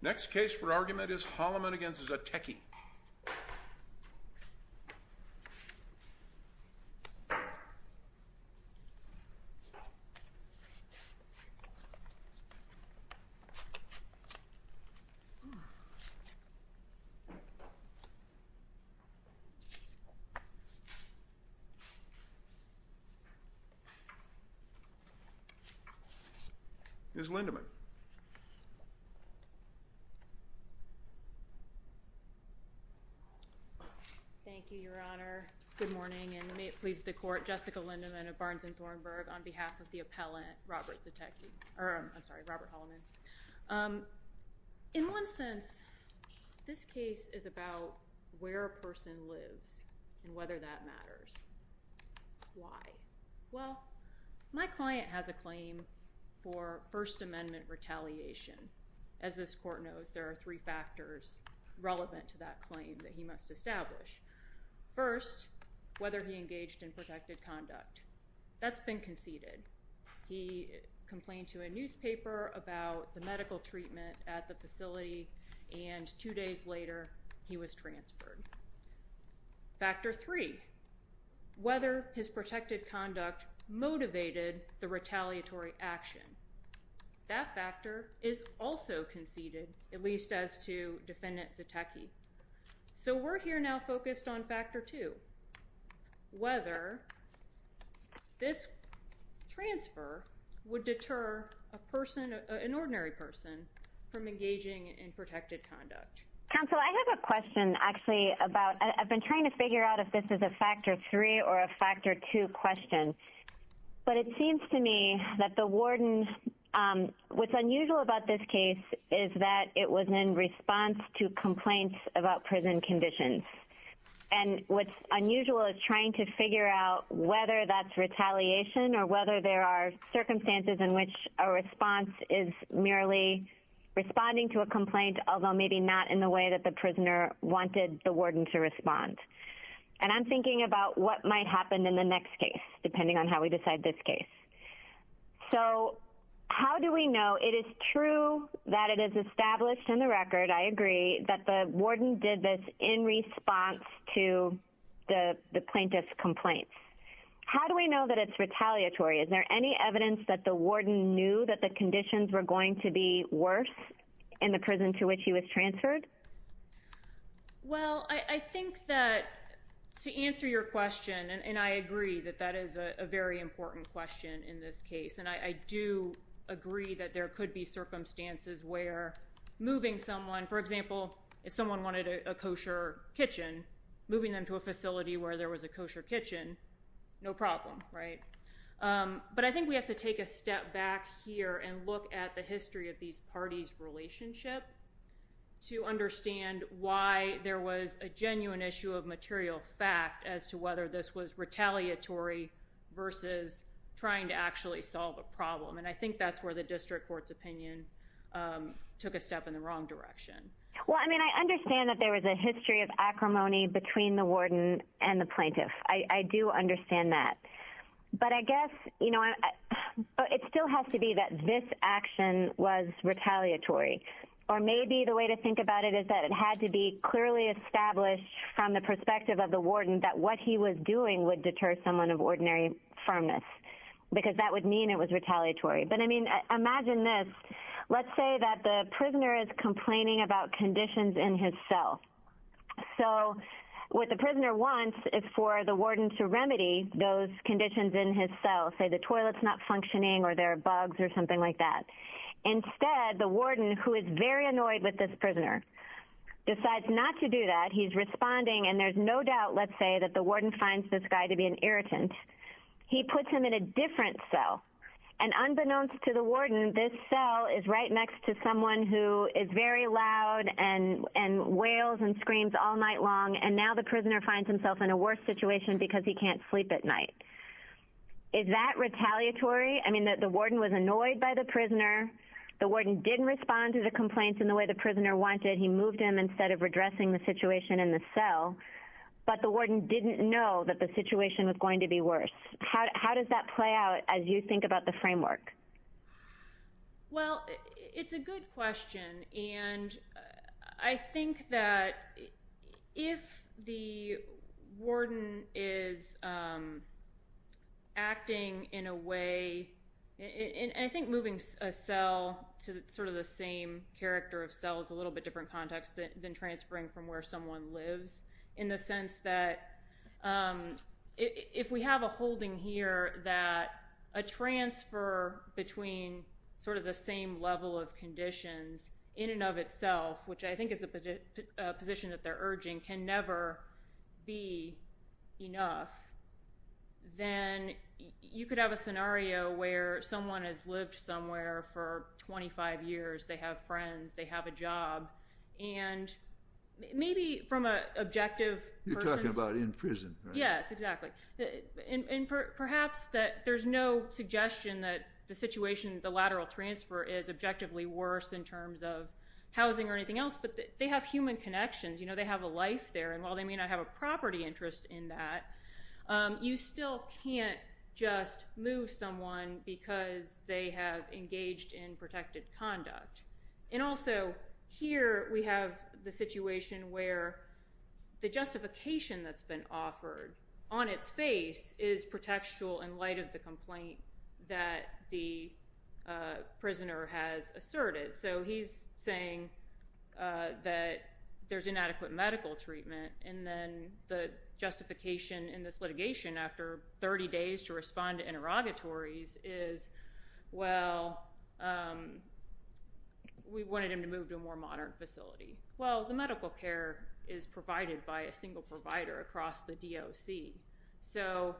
Next case for argument is Holleman v. Zatecky. Dushan Zatecky Thank you, Your Honor. Good morning, and may it please the court, Jessica Lindeman of Barnes and Thornburg, on behalf of the appellant, Robert Zatecky, or I'm sorry, Robert Holleman. In one sense, this case is about where a person lives and whether that matters. Why? Well, my client has a claim for First Amendment retaliation. As this court knows, there are three factors relevant to that claim that he must establish. First, whether he engaged in protected conduct. That's been conceded. He complained to a newspaper about the medical treatment at the facility, and two days later, he was transferred. Factor three, whether his protected conduct motivated the retaliatory action. That factor is also conceded, at least as to Defendant Zatecky. So we're here now focused on factor two, whether this transfer would deter an ordinary person from engaging in protected conduct. Counsel, I have a question, actually, about, I've been trying to figure out if this is a factor three or a factor two question. But it seems to me that the warden, what's unusual about this case is that it was in response to complaints about prison conditions. And what's unusual is trying to figure out whether that's retaliation or whether there are circumstances in which a response is merely responding to a complaint, although maybe not in the way that the prisoner wanted the warden to respond. And I'm thinking about what might happen in the next case, depending on how we decide this case. So how do we know? It is true that it is established in the record, I agree, that the warden did this in response to the plaintiff's complaints. How do we know that it's retaliatory? Is there any evidence that the warden knew that the conditions were going to be worse in the prison to which he was transferred? Well, I think that to answer your question, and I agree that that is a very important question in this case. And I do agree that there could be circumstances where moving someone, for example, if someone wanted a kosher kitchen, moving them to a facility where there was a kosher kitchen, no problem, right? But I think we have to take a step back here and look at the history of these parties' relationship to understand why there was a genuine issue of material fact as to whether this was retaliatory versus trying to actually solve a problem. And I think that's where the district court's opinion took a step in the wrong direction. Well, I mean, I understand that there was a history of acrimony between the warden and the plaintiff. I do understand that. But I guess, you know, it still has to be that this action was retaliatory. Or maybe the way to think about it is that it had to be clearly established from the perspective of the warden that what he was doing would deter someone of ordinary firmness, because that would mean it was retaliatory. But, I mean, imagine this. Let's say that the prisoner is complaining about conditions in his cell. So what the prisoner wants is for the warden to remedy those conditions in his cell, say the toilet's not functioning or there are bugs or something like that. Instead, the warden, who is very annoyed with this prisoner, decides not to do that. He's responding, and there's no doubt, let's say, that the warden finds this guy to be an irritant. He puts him in a different cell. And unbeknownst to the warden, this cell is right next to someone who is very loud and wails and screams all night long, and now the prisoner finds himself in a worse situation because he can't sleep at night. Is that retaliatory? I mean, the warden was annoyed by the prisoner. The warden didn't respond to the complaints in the way the prisoner wanted. He moved him instead of redressing the situation in the cell. But the warden didn't know that the situation was going to be worse. How does that play out as you think about the framework? Well, it's a good question. And I think that if the warden is acting in a way, and I think moving a cell to sort of the same character of cell is a little bit different context than transferring from where someone lives, in the sense that if we have a holding here that a transfer between sort of the same level of conditions in and of itself, which I think is the position that they're urging, can never be enough, then you could have a scenario where someone has lived somewhere for 25 years. They have friends. They have a job. And maybe from an objective person's- You're talking about in prison, right? Yes, exactly. And perhaps that there's no suggestion that the situation, the lateral transfer, is objectively worse in terms of housing or anything else. But they have human connections. They have a life there. And while they may not have a property interest in that, you still can't just move someone because they have engaged in protected conduct. And also, here we have the situation where the justification that's been offered on its face is pretextual in light of the complaint that the prisoner has asserted. So he's saying that there's inadequate medical treatment. And then the justification in this litigation after 30 days to respond to interrogatories is, well, we wanted him to move to a more modern facility. Well, the medical care is provided by a single provider across the DOC. So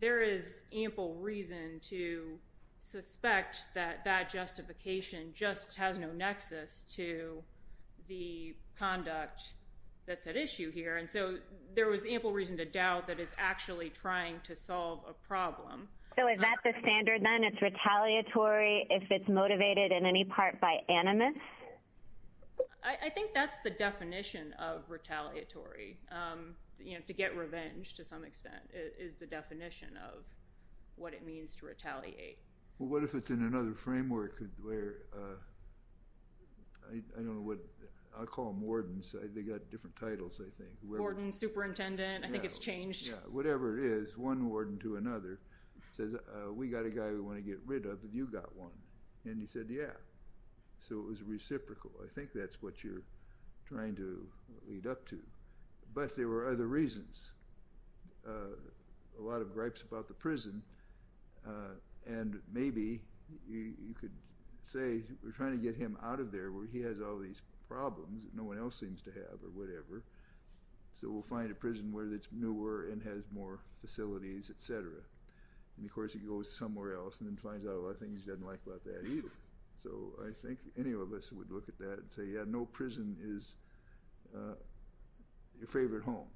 there is ample reason to suspect that that justification just has no nexus to the conduct that's at issue here. And so there was ample reason to doubt that it's actually trying to solve a problem. So is that the standard then? It's retaliatory if it's motivated in any part by animus? I think that's the definition of retaliatory. To get revenge, to some extent, is the definition of what it means to retaliate. Well, what if it's in another framework where – I don't know what – I'll call them wardens. They've got different titles, I think. Warden, superintendent. I think it's changed. Yeah. Whatever it is, one warden to another says, we've got a guy we want to get rid of. Have you got one? And he said, yeah. So it was reciprocal. I think that's what you're trying to lead up to. But there were other reasons. A lot of gripes about the prison. And maybe you could say we're trying to get him out of there where he has all these problems that no one else seems to have or whatever. So we'll find a prison where it's newer and has more facilities, et cetera. And, of course, he goes somewhere else and then finds out a lot of things he doesn't like about that either. So I think any of us would look at that and say, yeah, no prison is your favorite home.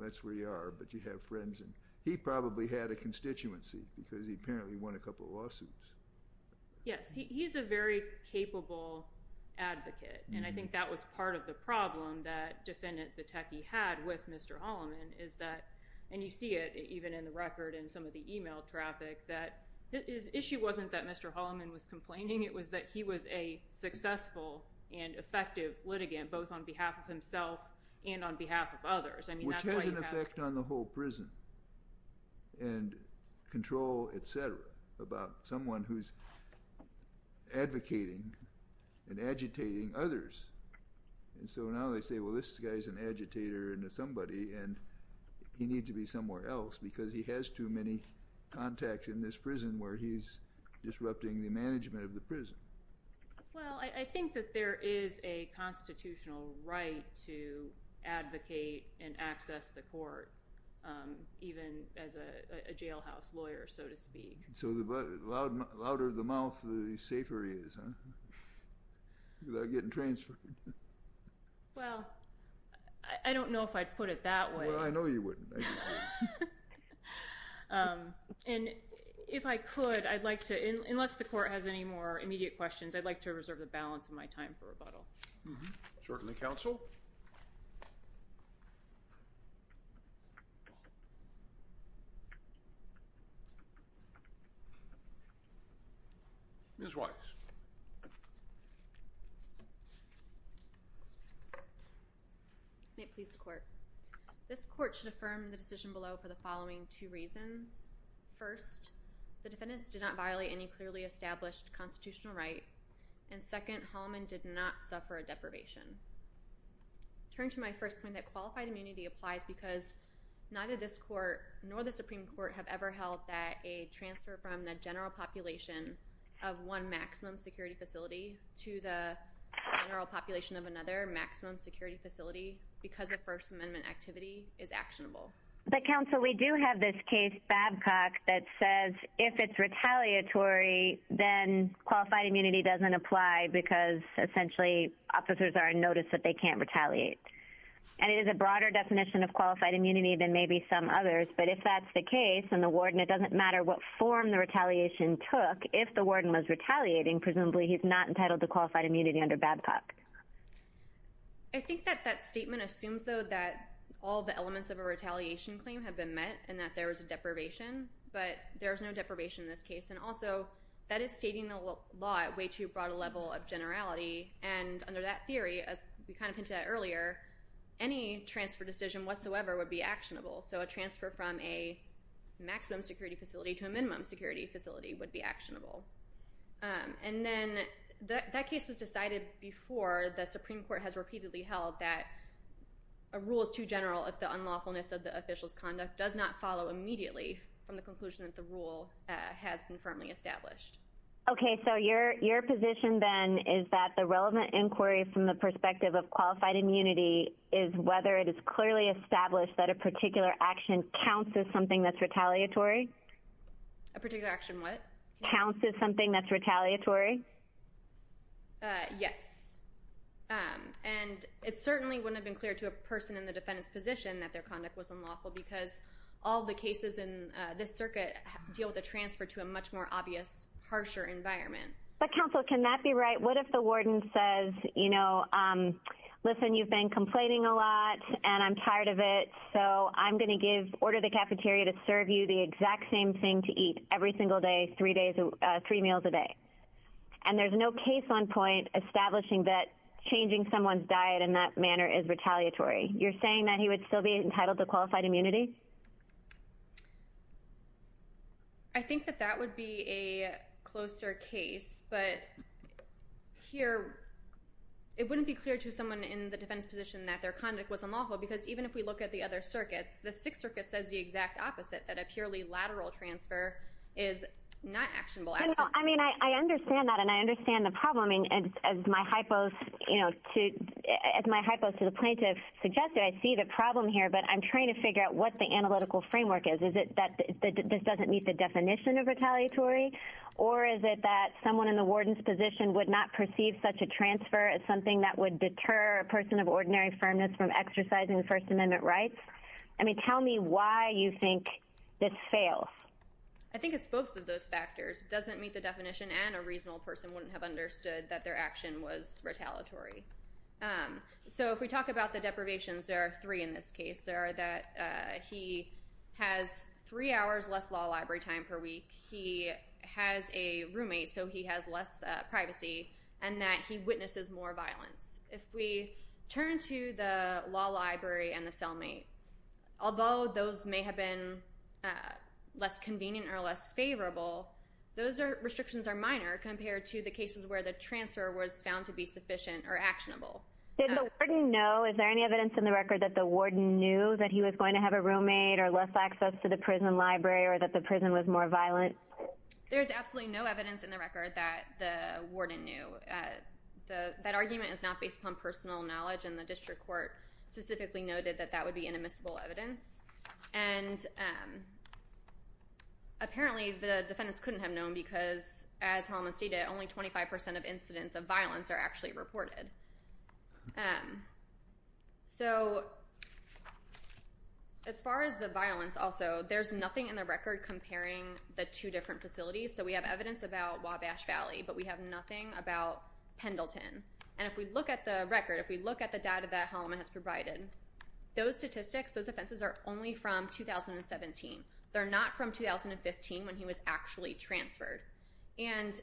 That's where you are. But you have friends. And he probably had a constituency because he apparently won a couple of lawsuits. Yes. He's a very capable advocate. And I think that was part of the problem that Defendant Zetecki had with Mr. Holloman is that – and you see it even in the record and some of the e-mail traffic – that his issue wasn't that Mr. Holloman was complaining. It was that he was a successful and effective litigant both on behalf of himself and on behalf of others. Which has an effect on the whole prison and control, et cetera, about someone who's advocating and agitating others. And so now they say, well, this guy's an agitator into somebody and he needs to be somewhere else because he has too many contacts in this prison where he's disrupting the management of the prison. Well, I think that there is a constitutional right to advocate and access the court, even as a jailhouse lawyer, so to speak. So the louder the mouth, the safer he is, huh? Without getting transferred. Well, I don't know if I'd put it that way. Well, I know you wouldn't. And if I could, I'd like to – unless the court has any more immediate questions, I'd like to reserve the balance of my time for rebuttal. Certainly, counsel. Ms. Rice. May it please the court. This court should affirm the decision below for the following two reasons. First, the defendants did not violate any clearly established constitutional right. And second, Hallman did not suffer a deprivation. I turn to my first point that qualified immunity applies because neither this court nor the Supreme Court have ever held that a transfer from the general population of one maximum security facility to the general population of another maximum security facility because of First Amendment activity is actionable. But, counsel, we do have this case, Babcock, that says if it's retaliatory, then qualified immunity doesn't apply because essentially officers are in notice that they can't retaliate. And it is a broader definition of qualified immunity than maybe some others, but if that's the case and the warden, it doesn't matter what form the retaliation took, if the warden was retaliating, presumably he's not entitled to qualified immunity under Babcock. I think that that statement assumes, though, that all the elements of a retaliation claim have been met and that there was a deprivation, but there was no deprivation in this case. And also, that is stating the law at way too broad a level of generality, and under that theory, as we kind of hinted at earlier, any transfer decision whatsoever would be actionable. So a transfer from a maximum security facility to a minimum security facility would be actionable. And then that case was decided before the Supreme Court has repeatedly held that a rule is too general if the unlawfulness of the official's conduct does not follow immediately from the conclusion that the rule has been firmly established. Okay, so your position then is that the relevant inquiry from the perspective of qualified immunity is whether it is clearly established that a particular action counts as something that's retaliatory? A particular action what? Counts as something that's retaliatory? Yes. And it certainly wouldn't have been clear to a person in the defendant's position that their conduct was unlawful because all the cases in this circuit deal with a transfer to a much more obvious, harsher environment. But counsel, can that be right? What if the warden says, you know, listen, you've been complaining a lot and I'm tired of it, so I'm going to order the cafeteria to serve you the exact same thing to eat every single day, three meals a day. And there's no case on point establishing that changing someone's diet in that manner is retaliatory. You're saying that he would still be entitled to qualified immunity? I think that that would be a closer case. But here, it wouldn't be clear to someone in the defendant's position that their conduct was unlawful because even if we look at the other circuits, the Sixth Circuit says the exact opposite, that a purely lateral transfer is not actionable. I mean, I understand that and I understand the problem. As my hypo to the plaintiff suggested, I see the problem here, but I'm trying to figure out what the analytical framework is. Is it that this doesn't meet the definition of retaliatory? Or is it that someone in the warden's position would not perceive such a transfer as something that would deter a person of ordinary firmness from exercising First Amendment rights? I mean, tell me why you think this fails. I think it's both of those factors. It doesn't meet the definition and a reasonable person wouldn't have understood that their action was retaliatory. So if we talk about the deprivations, there are three in this case. There are that he has three hours less law library time per week, he has a roommate so he has less privacy, and that he witnesses more violence. If we turn to the law library and the cellmate, although those may have been less convenient or less favorable, those restrictions are minor compared to the cases where the transfer was found to be sufficient or actionable. Did the warden know, is there any evidence in the record that the warden knew that he was going to have a roommate or less access to the prison library or that the prison was more violent? There's absolutely no evidence in the record that the warden knew. That argument is not based on personal knowledge and the district court specifically noted that that would be inadmissible evidence. And apparently the defendants couldn't have known because, as Hellman stated, only 25% of incidents of violence are actually reported. So as far as the violence also, there's nothing in the record comparing the two different facilities. So we have evidence about Wabash Valley, but we have nothing about Pendleton. And if we look at the record, if we look at the data that Hellman has provided, those statistics, those offenses are only from 2017. They're not from 2015 when he was actually transferred. And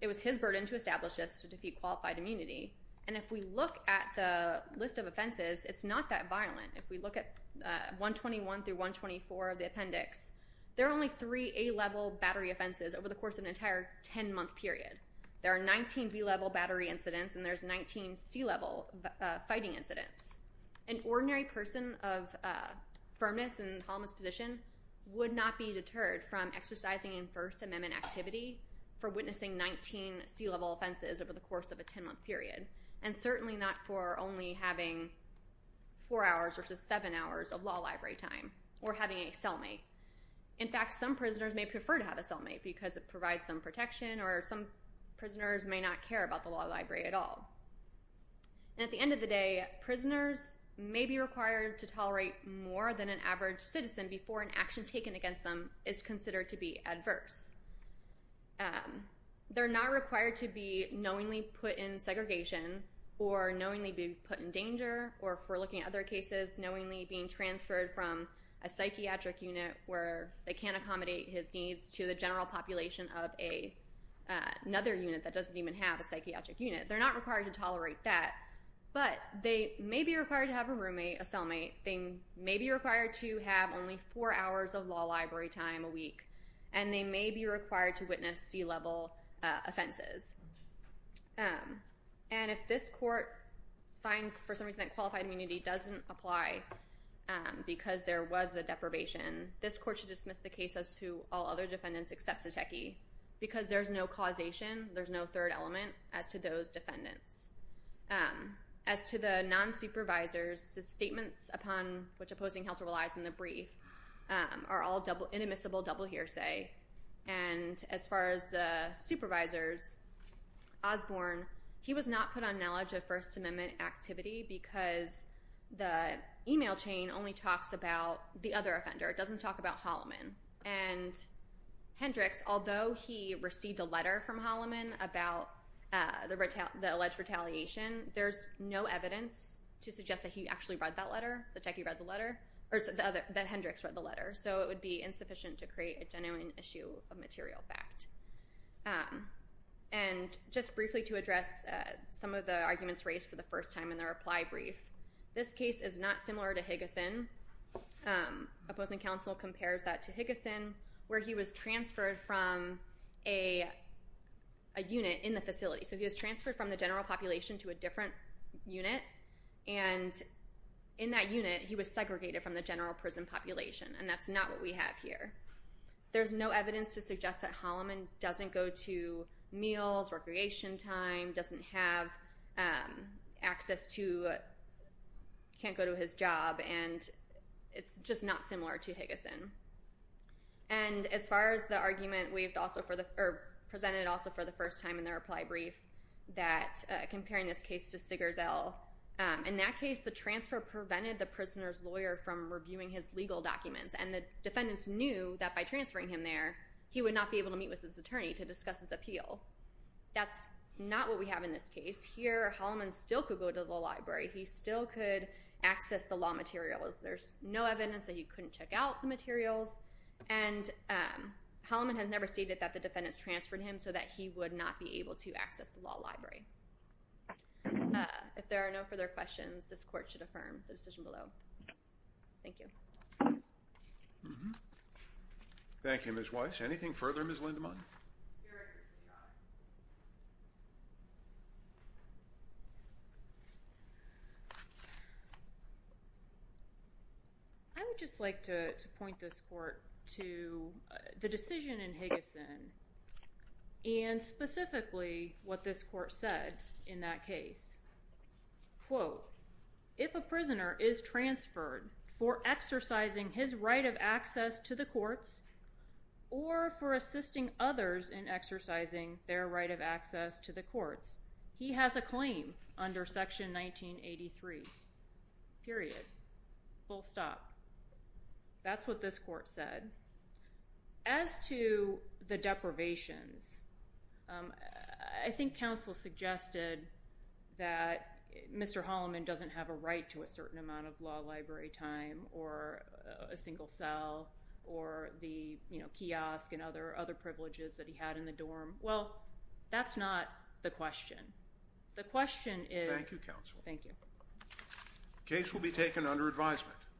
it was his burden to establish this to defeat qualified immunity. And if we look at the list of offenses, it's not that violent. If we look at 121 through 124 of the appendix, there are only three A-level battery offenses over the course of an entire 10-month period. There are 19 B-level battery incidents, and there's 19 C-level fighting incidents. An ordinary person of firmness in Hellman's position would not be deterred from exercising in First Amendment activity for witnessing 19 C-level offenses over the course of a 10-month period, and certainly not for only having four hours versus seven hours of law library time or having a cellmate. In fact, some prisoners may prefer to have a cellmate because it provides some protection, or some prisoners may not care about the law library at all. And at the end of the day, prisoners may be required to tolerate more than an average citizen before an action taken against them is considered to be adverse. They're not required to be knowingly put in segregation or knowingly be put in danger, or if we're looking at other cases, knowingly being transferred from a psychiatric unit where they can't accommodate his needs to the general population of another unit that doesn't even have a psychiatric unit. They're not required to tolerate that, but they may be required to have a roommate, a cellmate. They may be required to have only four hours of law library time a week, and they may be required to witness C-level offenses. And if this court finds, for some reason, that qualified immunity doesn't apply because there was a deprivation, this court should dismiss the case as to all other defendants except Setecki because there's no causation, there's no third element as to those defendants. As to the non-supervisors, the statements upon which opposing counsel relies in the brief are all inadmissible double hearsay. And as far as the supervisors, Osborne, he was not put on knowledge of First Amendment activity because the email chain only talks about the other offender. It doesn't talk about Holloman. And Hendricks, although he received a letter from Holloman about the alleged retaliation, there's no evidence to suggest that he actually read that letter, Setecki read the letter, or that Hendricks read the letter. So it would be insufficient to create a genuine issue of material fact. And just briefly to address some of the arguments raised for the first time in the reply brief, this case is not similar to Higgison. Opposing counsel compares that to Higgison where he was transferred from a unit in the facility. So he was transferred from the general population to a different unit, and in that unit he was segregated from the general prison population, and that's not what we have here. There's no evidence to suggest that Holloman doesn't go to meals, recreation time, doesn't have access to, can't go to his job, and it's just not similar to Higgison. And as far as the argument presented also for the first time in the reply brief, comparing this case to Sigerzell, in that case the transfer prevented the prisoner's lawyer from reviewing his legal documents, and the defendants knew that by transferring him there, he would not be able to meet with his attorney to discuss his appeal. That's not what we have in this case. Here Holloman still could go to the law library. He still could access the law materials. There's no evidence that he couldn't check out the materials, and Holloman has never stated that the defendants transferred him so that he would not be able to access the law library. If there are no further questions, this court should affirm the decision below. Thank you. Thank you, Ms. Weiss. Anything further, Ms. Lindemann? I would just like to point this court to the decision in Higgison and specifically what this court said in that case. Quote, if a prisoner is transferred for exercising his right of access to the courts or for assisting others in exercising their right of access to the courts, he has a claim under Section 1983. Period. Full stop. That's what this court said. As to the deprivations, I think counsel suggested that Mr. Holloman doesn't have a right to a certain amount of law library time or a single cell or the kiosk and other privileges that he had in the dorm. Well, that's not the question. The question is... Thank you, counsel. Thank you. The case will be taken under advisement.